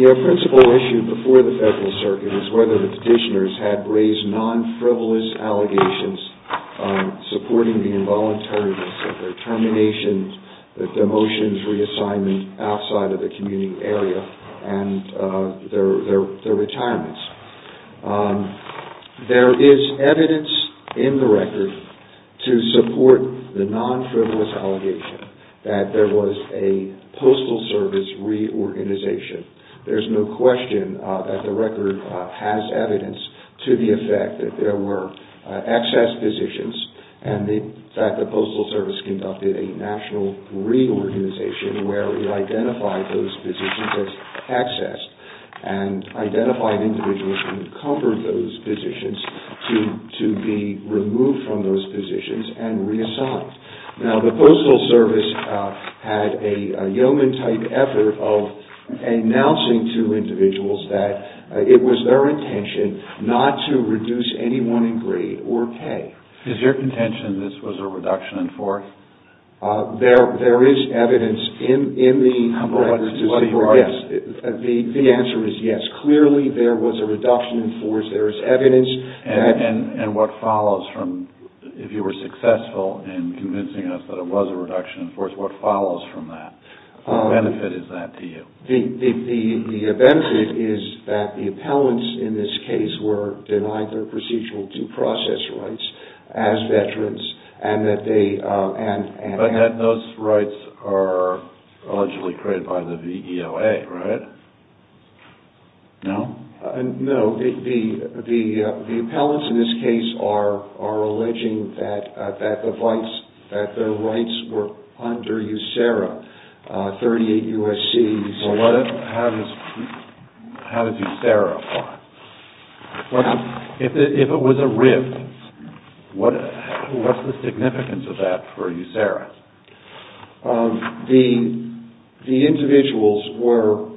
MSWordDoc Word.Document.8 The principal issue before the federal circuit is whether the petitioners had raised non-frivolous allegations supporting the involuntariness of their terminations, their demotions, reassignment outside of the community area, and their retirements. There is evidence in the record to support the non-frivolous allegation that there was a postal service reorganization. There's no doubt that there were access positions and that the Postal Service conducted a national reorganization where it identified those positions as accessed and identified individuals who covered those positions to be removed from those positions and reassigned. Now the Postal Service had a yeoman-type effort of announcing to individuals that it was their intention not to reduce any one degree or pay. Is your contention that this was a reduction in force? There is evidence in the record to support, yes. The answer is yes. Clearly there was a reduction in force. There is evidence. And what follows from, if you were successful in convincing us that it was a reduction in force, what follows from that? What benefit is that to you? The benefit is that the appellants in this case were denied their procedural due process rights as veterans and that they... But those rights are allegedly created by the VEOA, right? No? No. The appellants in this case are alleging that their rights were under USERRA, 38 U.S.C. So how does USERRA apply? If it was a RIV, what's the significance of that for USERRA? The individuals were...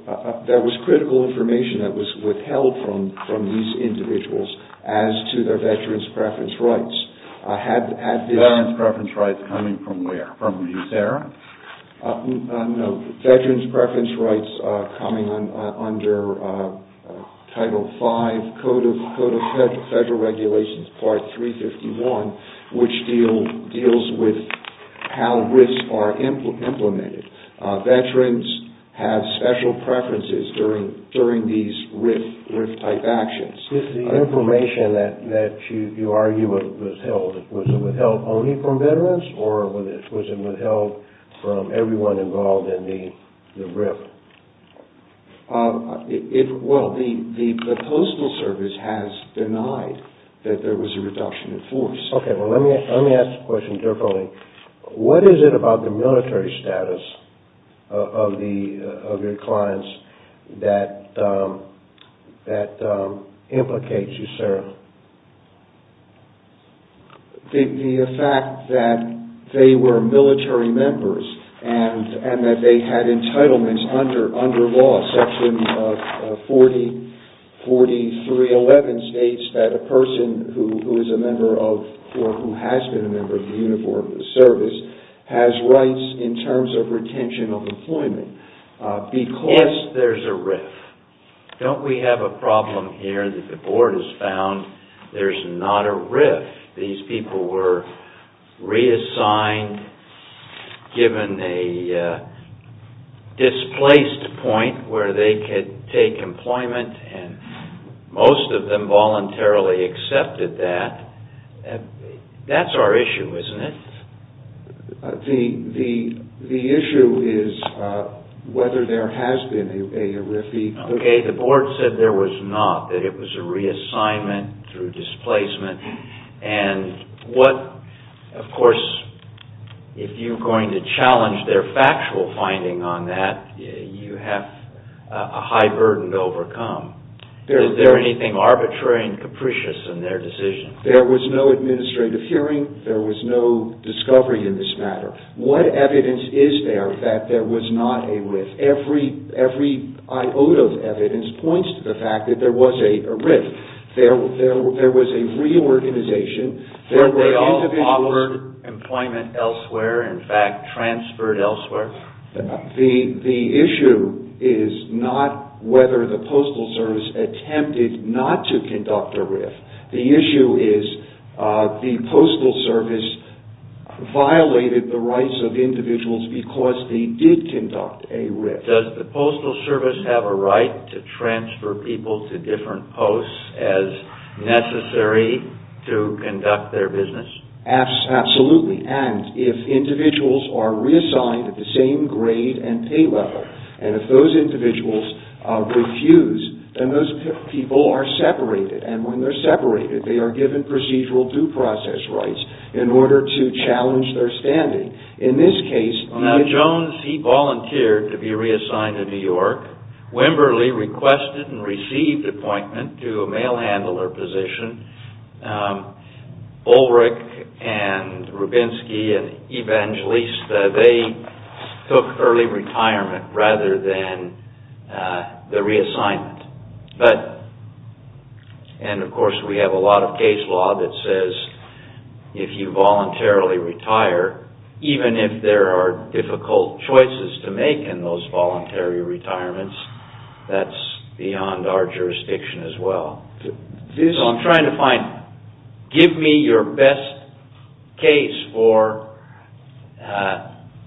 There was critical information that was withheld from these individuals as to their veterans' preference rights. Veterans' preference rights coming from where? From USERRA? No. Veterans' preference rights coming under Title V, Code of Federal Regulations, Part 351, which deals with how RIVs are implemented. Veterans have special preferences during these RIV-type actions. With the information that you argue was withheld, was it withheld only from veterans or was it withheld from everyone involved in the RIV? Well, the Postal Service has denied that there was a reduction in force. Okay. Well, let me ask the question differently. What is it about the military status of your clients that implicates USERRA? The fact that they were military members and that they had entitlements under law, Section 40.43.11 states that a person who is a member of or who has been a member of the Uniform Service has rights in terms of retention of employment. Yes, there's a RIV. Don't we have a problem here that the Board has found? There's not a RIV. These people were reassigned, given a displaced point where they could take employment and most of them voluntarily accepted that. That's our issue, isn't it? The issue is whether there has been a RIV. Okay. The Board said there was not, that it was a reassignment through displacement and what, of course, if you're going to challenge their factual finding on that, you have a high burden to overcome. Is there anything arbitrary and capricious in their decision? There was no administrative hearing. There was no discovery in this matter. What evidence is there that there was not a RIV? Every iota of evidence points to the fact that there was a RIV. There was a reorganization. Were they all offered employment elsewhere, in fact, transferred elsewhere? The issue is not whether the Postal Service attempted not to conduct a RIV. The issue is the Postal Service violated the rights of individuals because they did conduct a RIV. Does the Postal Service have a right to transfer people to different posts as necessary to conduct their business? Absolutely. And if individuals are reassigned at the same grade and pay level, and if those process rights in order to challenge their standing. In this case... Now, Jones, he volunteered to be reassigned to New York. Wimberly requested and received appointment to a mail handler position. Ulrich and Rubinsky and Evangelista, they took early retirement rather than the reassignment. Of course, we have a lot of case law that says if you voluntarily retire, even if there are difficult choices to make in those voluntary retirements, that's beyond our jurisdiction as well. I'm trying to find... Give me your best case for...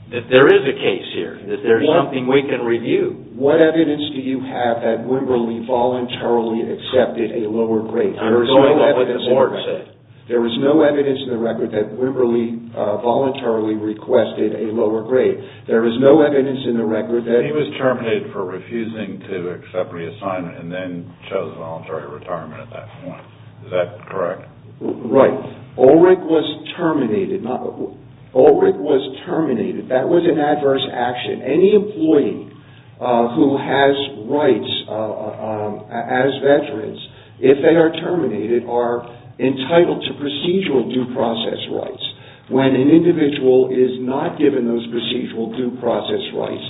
That there is a case here. That there is something we can review. What evidence do you have that Wimberly voluntarily accepted a lower grade? I'm going with what the board said. There is no evidence in the record that Wimberly voluntarily requested a lower grade. There is no evidence in the record that... He was terminated for refusing to accept reassignment and then chose voluntary retirement at that point. Is that correct? Right. Ulrich was terminated. Ulrich was terminated. That was an adverse action. Any employee who has rights as veterans, if they are terminated, are entitled to procedural due process rights. When an individual is not given those procedural due process rights,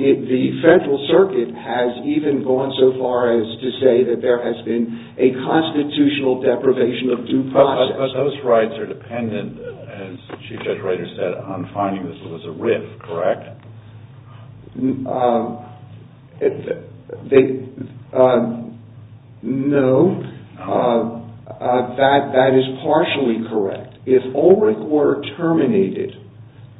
the federal circuit has even gone so far as to say that there has been a constitutional deprivation of due process. But those rights are dependent, as Chief Judge Reiter said, on finding this was a RIF, correct? No. That is partially correct. If Ulrich were terminated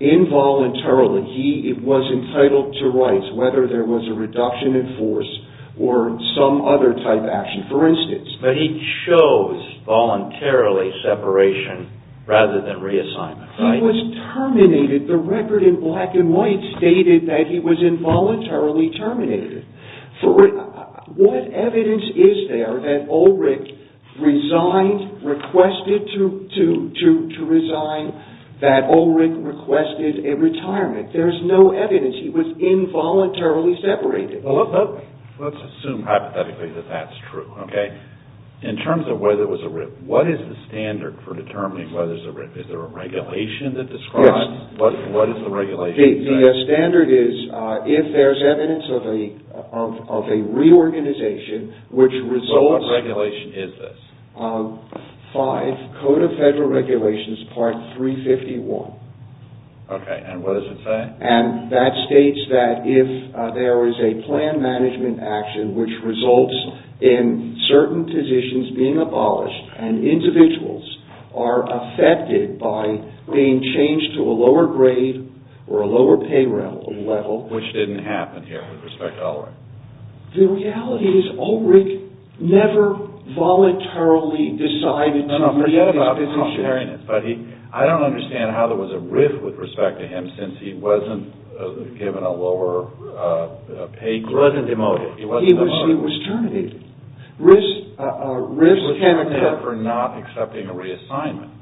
involuntarily, he was entitled to rights, whether there was a reduction in force or some other type action. For instance... But he chose voluntarily separation rather than reassignment, right? When he was terminated, the record in black and white stated that he was involuntarily terminated. What evidence is there that Ulrich resigned, requested to resign, that Ulrich requested a retirement? There is no evidence. He was involuntarily separated. Let us assume hypothetically that that is true, okay? In terms of whether it was a RIF, what is the standard for determining whether it is a RIF? Is there a regulation that describes what is the regulation? The standard is if there is evidence of a reorganization, which results... What regulation is this? Five, Code of Federal Regulations, Part 351. Okay. And what does it say? And that states that if there is a plan management action which results in certain positions being abolished and individuals are affected by being changed to a lower grade or a lower pay level... Which didn't happen here with respect to Ulrich. The reality is Ulrich never voluntarily decided to... No, no, forget about voluntariness, but I don't understand how there was a RIF with respect to him since he wasn't given a lower pay... He wasn't demoted. He was terminated. He was terminated for not accepting a reassignment.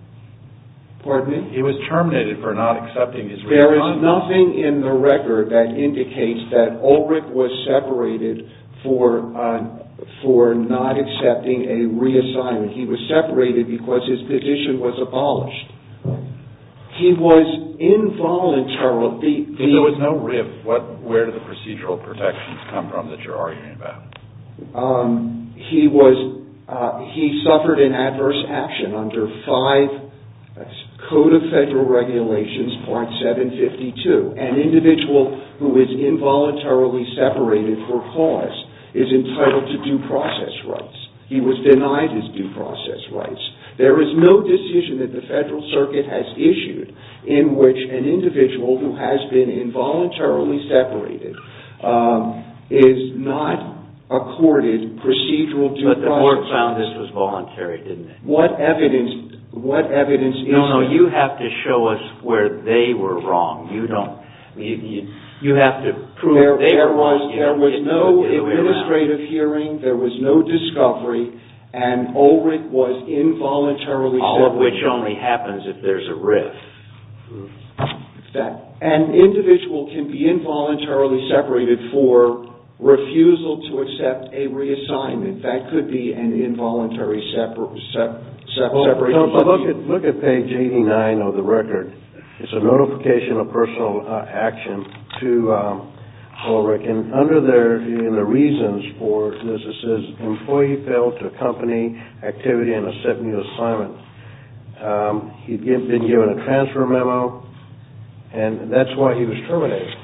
Pardon me? He was terminated for not accepting his reassignment. There is nothing in the record that indicates that Ulrich was separated for not accepting a reassignment. He was separated because his position was abolished. He was involuntarily... If there was no RIF, where did the procedural protections come from that you're arguing about? He suffered an adverse action under Five, Code of Federal Regulations, Part 752. An individual who is involuntarily separated for cause is entitled to due process rights. He was denied his due process rights. There is no decision that the Federal Circuit has issued in which an individual who has been involuntarily separated is not accorded procedural due process... But the board found this was voluntary, didn't it? What evidence... No, no, you have to show us where they were wrong. You don't... You have to prove they were wrong. There was no administrative hearing, there was no discovery, and Ulrich was involuntarily... All of which only happens if there's a RIF. An individual can be involuntarily separated for refusal to accept a reassignment. That could be an involuntary separation. Look at page 89 of the record. It's a notification of personal action to Ulrich, and under there, in the reasons for this, it says, employee failed to accompany activity in accepting the assignment. He'd been given a transfer memo, and that's why he was terminated.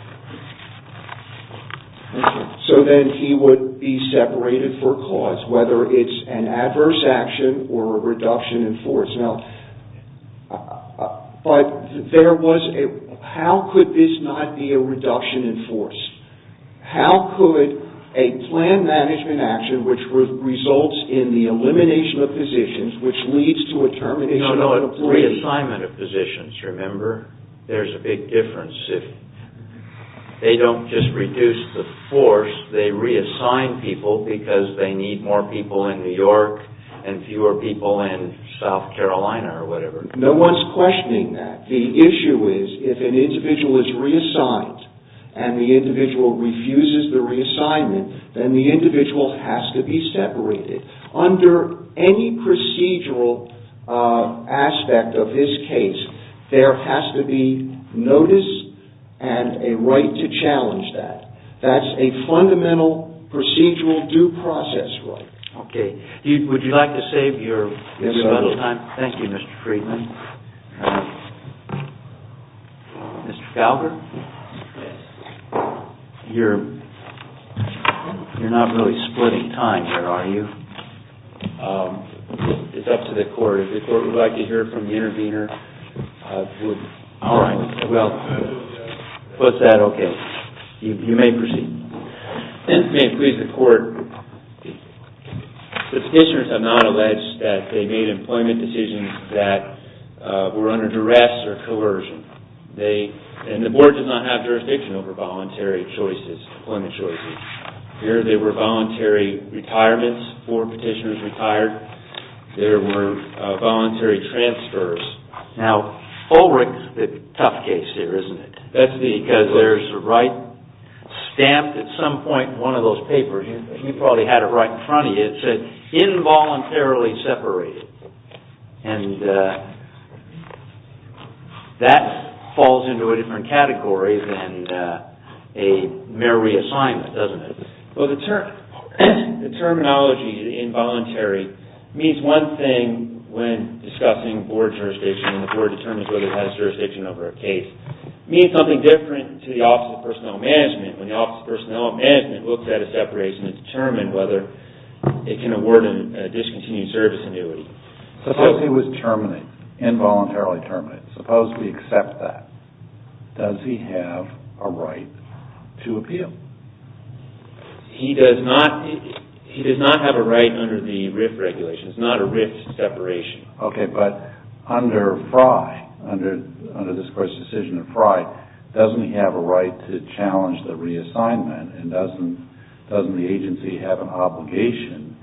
So then he would be separated for cause, whether it's an adverse action or a reduction in force. Now, but there was a... How could this not be a reduction in force? How could a plan management action, which results in the elimination of positions, which leads to a termination of employee... They don't just reduce the force, they reassign people because they need more people in New York and fewer people in South Carolina or whatever. No one's questioning that. The issue is if an individual is reassigned and the individual refuses the reassignment, then the individual has to be separated. Under any procedural aspect of this case, there has to be notice and a right to challenge that. That's a fundamental procedural due process right. Okay. Would you like to save your little time? Yes, I will. Thank you, Mr. Friedman. Mr. Fowler? You're not really splitting time, are you? It's up to the court. If the court would like to hear from the intervener... All right. Well, what's that? Okay. You may proceed. If it pleases the court, the petitioners have not alleged that they made employment decisions that were under duress or coercion. And the board does not have jurisdiction over voluntary choices, employment choices. Here they were voluntary retirements. Four petitioners retired. There were voluntary transfers. Now, Ulrich's the tough case here, isn't it? That's because there's a right stamped at some point in one of those papers. You probably had it right in front of you. It said, involuntarily separated. And that falls into a different category than a mere reassignment, doesn't it? Well, the terminology involuntary means one thing when discussing board jurisdiction and the board determines whether it has jurisdiction over a case. It means something different to the Office of Personnel Management when the Office of Personnel Management looks at a separation and determines whether it can award a discontinued service annuity. Suppose he was terminated, involuntarily terminated. Suppose we accept that. Does he have a right to appeal? He does not have a right under the RIF regulation. It's not a RIF separation. Okay. But under FRI, under this court's decision of FRI, doesn't he have a right to challenge the reassignment and doesn't the agency have an obligation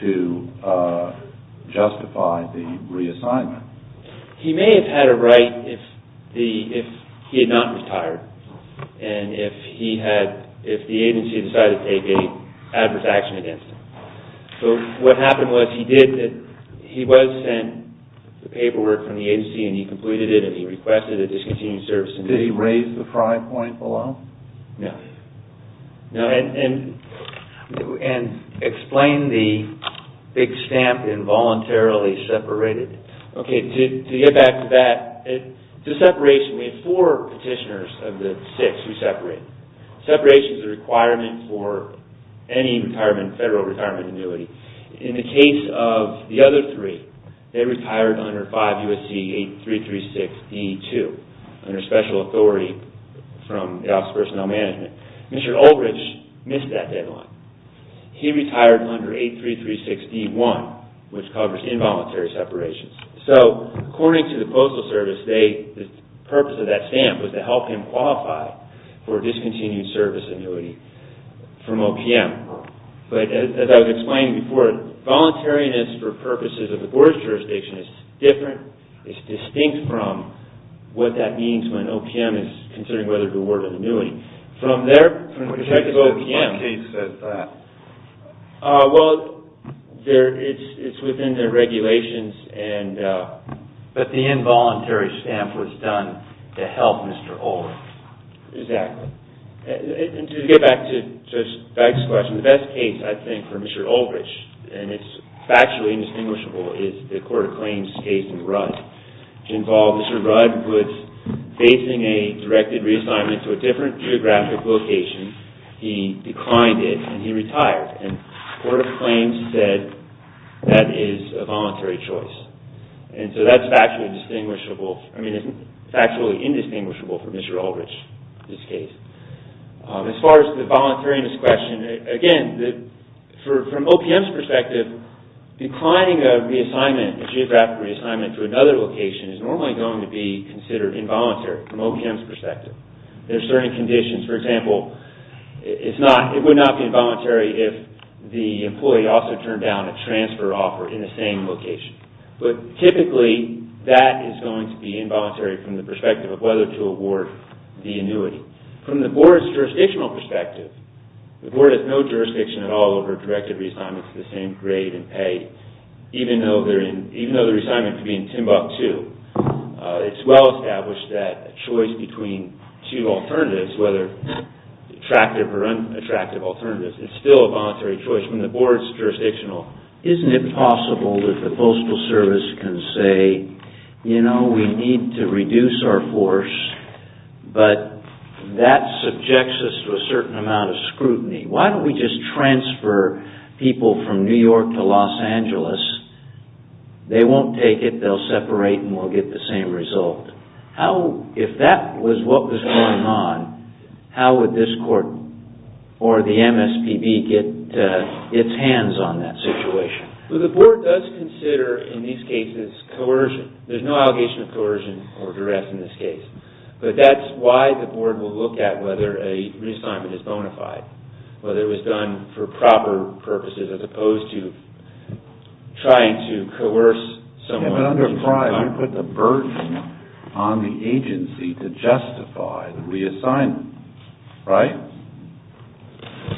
to justify the reassignment? He may have had a right if he had not retired and if the agency decided to take any adverse action against him. So what happened was he was sent the paperwork from the agency and he completed it and he requested a discontinued service annuity. Did he raise the FRI point below? No. And explain the big stamp involuntarily separated. Okay. To get back to that, the separation, we have four petitioners of the six who separate. Separation is a requirement for any federal retirement annuity. In the case of the other three, they retired under 5 U.S.C. 8336E2, under special authority from the Office of Personnel Management. Mr. Oldridge missed that deadline. He retired under 8336E1, which covers involuntary separations. So according to the Postal Service, the purpose of that stamp was to help him qualify for a discontinued service annuity from OPM. Right. But as I was explaining before, voluntariness for purposes of the Board's jurisdiction is different, is distinct from what that means when OPM is considering whether to award an annuity. From their perspective, OPM... What case says that? Well, it's within their regulations and... But the involuntary stamp was done to help Mr. Oldridge. Exactly. And to get back to Judge Baxter's question, the best case I think for Mr. Oldridge, and it's factually indistinguishable, is the Court of Claims case in Rudd, which involved Mr. Rudd was facing a directed reassignment to a different geographic location. He declined it and he retired. And the Court of Claims said that is a voluntary choice. And so that's factually indistinguishable. I mean, it's factually indistinguishable for Mr. Oldridge in this case. As far as the voluntariness question, again, from OPM's perspective, declining a reassignment, a geographic reassignment to another location is normally going to be considered involuntary from OPM's perspective. There are certain conditions. For example, it would not be involuntary if the employee also turned down a transfer offer in the same location. But typically, that is going to be involuntary from the perspective of whether to award the annuity. From the Board's jurisdictional perspective, the Board has no jurisdiction at all over directed reassignments of the same grade and pay, even though the reassignment could be in Timbuktu. It's well established that a choice between two alternatives, whether attractive or unattractive alternatives, is still a voluntary choice. From the Board's jurisdictional, isn't it possible that the Postal Service can say, you know, we need to reduce our force, but that subjects us to a certain amount of scrutiny. Why don't we just transfer people from New York to Los Angeles? They won't take it. They'll separate and we'll get the same result. If that was what was going on, how would this court or the MSPB get its hands on that situation? The Board does consider, in these cases, coercion. There's no allegation of coercion or direct in this case. But that's why the Board will look at whether a reassignment is bona fide, whether it was done for proper purposes, as opposed to trying to coerce someone. You put the burden on the agency to justify the reassignment, right?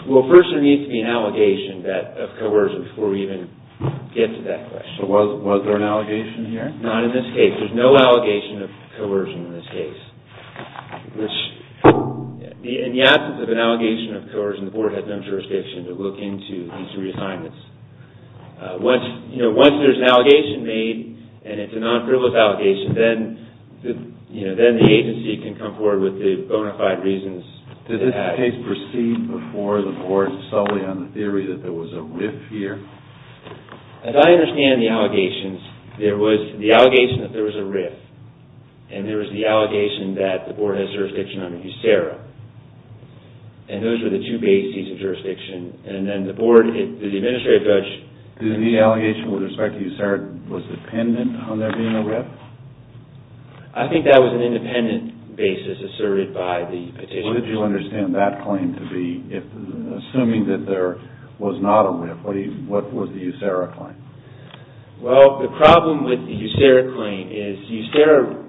Well, first there needs to be an allegation of coercion before we even get to that question. So was there an allegation here? Not in this case. There's no allegation of coercion in this case. In the absence of an allegation of coercion, the Board has no jurisdiction to look into these reassignments. Once there's an allegation made and it's a non-frivolous allegation, then the agency can come forward with the bona fide reasons to act. Did this case proceed before the Board solely on the theory that there was a RIF here? As I understand the allegations, there was the allegation that there was a RIF, and there was the allegation that the Board has jurisdiction under USERRA. And those were the two bases of jurisdiction. And then the Board, the administrative judge... The allegation with respect to USERRA was dependent on there being a RIF? I think that was an independent basis asserted by the petitioner. What did you understand that claim to be? Assuming that there was not a RIF, what was the USERRA claim? Well, the problem with the USERRA claim is USERRA,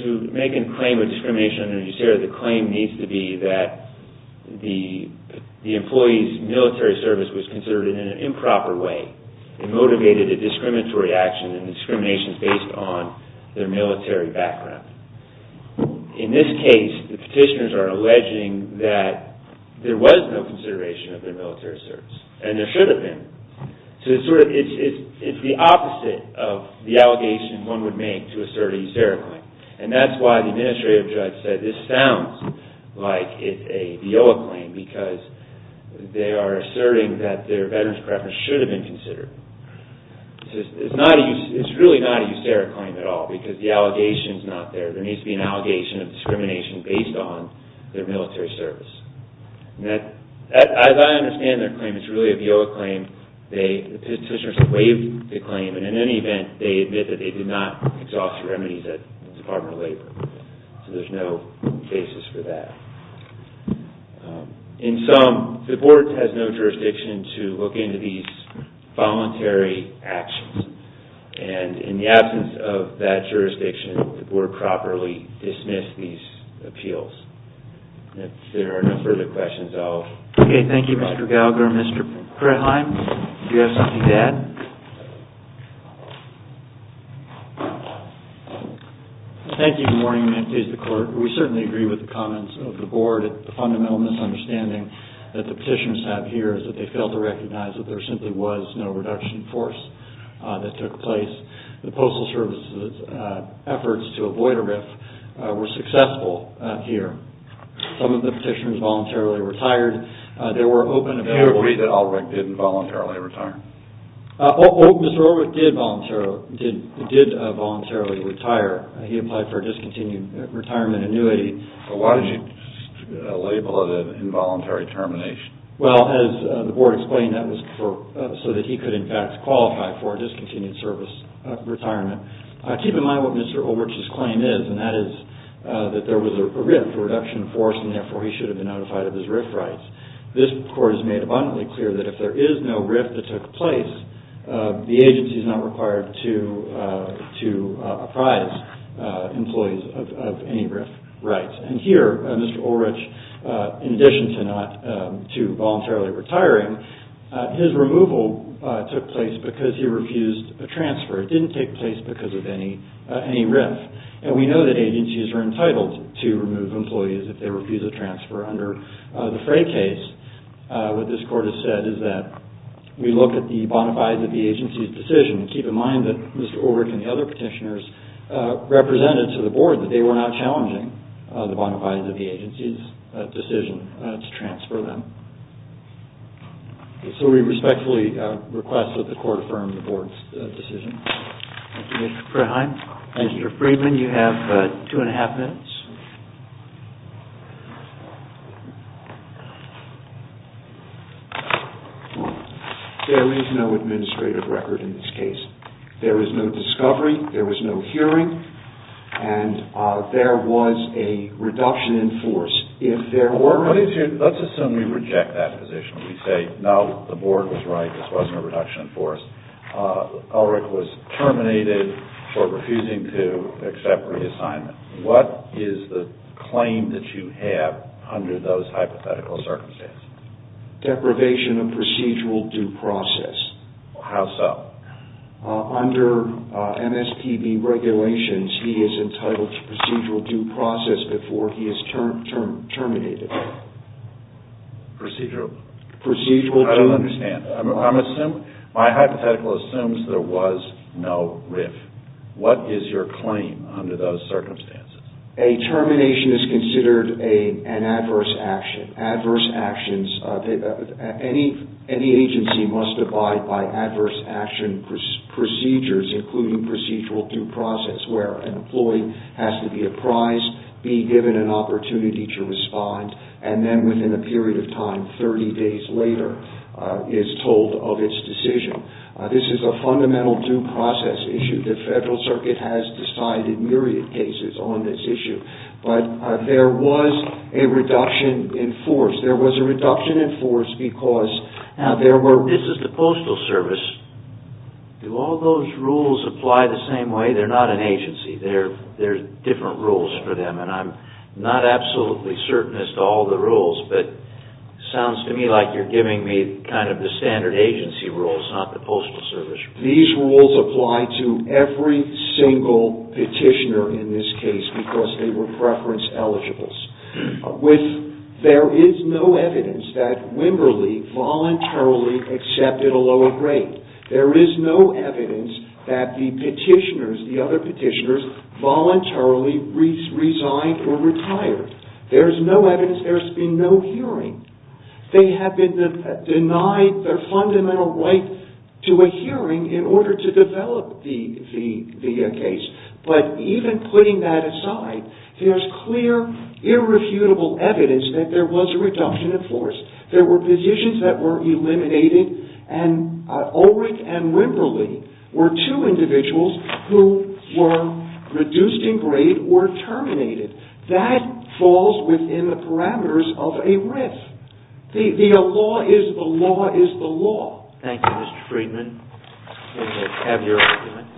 to make a claim of discrimination under USERRA, the claim needs to be that the employee's military service was considered in an improper way and motivated a discriminatory action and discrimination is based on their military background. In this case, the petitioners are alleging that there was no consideration of their military service, and there should have been. So it's the opposite of the allegation one would make to assert a USERRA claim. And that's why the administrative judge said, this sounds like it's a VIOA claim because they are asserting that their veterans preference should have been considered. It's really not a USERRA claim at all because the allegation is not there. There needs to be an allegation of discrimination based on their military service. As I understand their claim, it's really a VIOA claim. The petitioners waived the claim, and in any event, they admit that they did not exhaust the remedies at the Department of Labor. So there's no basis for that. In sum, the board has no jurisdiction to look into these voluntary actions. And in the absence of that jurisdiction, the board properly dismissed these appeals. If there are no further questions, I'll... Okay, thank you, Mr. Gallagher. Mr. Krettheim, do you have something to add? Thank you. Good morning. May it please the Court. We certainly agree with the comments of the board. The fundamental misunderstanding that the petitioners have here is that they fail to recognize that there simply was no reduction in force that took place. The Postal Service's efforts to avoid a RIF were successful here. Some of the petitioners voluntarily retired. Do you agree that Ulrich didn't voluntarily retire? Mr. Ulrich did voluntarily retire. He applied for a discontinued retirement annuity. Why did you label it an involuntary termination? Well, as the board explained, that was so that he could, in fact, qualify for a discontinued service retirement. Keep in mind what Mr. Ulrich's claim is, and that is that there was a RIF, a reduction in force, and therefore he should have been notified of his RIF rights. This Court has made abundantly clear that if there is no RIF that took place, the agency is not required to apprise employees of any RIF rights. And here, Mr. Ulrich, in addition to voluntarily retiring, his removal took place because he refused a transfer. It didn't take place because of any RIF. And we know that agencies are entitled to remove employees if they refuse a transfer. Under the Frey case, what this Court has said is that we look at the bona fides of the agency's decision. Keep in mind that Mr. Ulrich and the other petitioners represented to the board that they were not challenging the bona fides of the agency's decision to transfer them. So we respectfully request that the Court affirm the board's decision. Thank you, Mr. Freheim. Mr. Freeman, you have two and a half minutes. There is no administrative record in this case. There is no discovery, there was no hearing, and there was a reduction in force. Let's assume we reject that position. We say, no, the board was right, this wasn't a reduction in force. Ulrich was terminated for refusing to accept reassignment. What is the claim that you have under those hypothetical circumstances? Deprivation of procedural due process. How so? Under MSPB regulations, he is entitled to procedural due process before he is terminated. Procedural? Procedural due process. I don't understand. My hypothetical assumes there was no RIF. What is your claim under those circumstances? A termination is considered an adverse action. Any agency must abide by adverse action procedures, including procedural due process, where an employee has to be apprised, be given an opportunity to respond, and then within a period of time, 30 days later, is told of its decision. This is a fundamental due process issue. The Federal Circuit has decided myriad cases on this issue. There was a reduction in force. There was a reduction in force because there were... This is the Postal Service. Do all those rules apply the same way? They're not an agency. They're different rules for them, and I'm not absolutely certain as to all the rules, but it sounds to me like you're giving me kind of the standard agency rules, not the Postal Service rules. These rules apply to every single petitioner in this case because they were preference eligibles. There is no evidence that Wimberley voluntarily accepted a lower grade. There is no evidence that the petitioners, the other petitioners, voluntarily resigned or retired. There's no evidence. There's been no hearing. They have been denied their fundamental right to a hearing in order to develop the case, but even putting that aside, there's clear irrefutable evidence that there was a reduction in force. There were petitions that were eliminated, and Ulrich and Wimberley were two individuals who were reduced in grade or terminated. That falls within the parameters of a RIF. The law is the law is the law. Thank you, Mr. Friedman. I have your argument.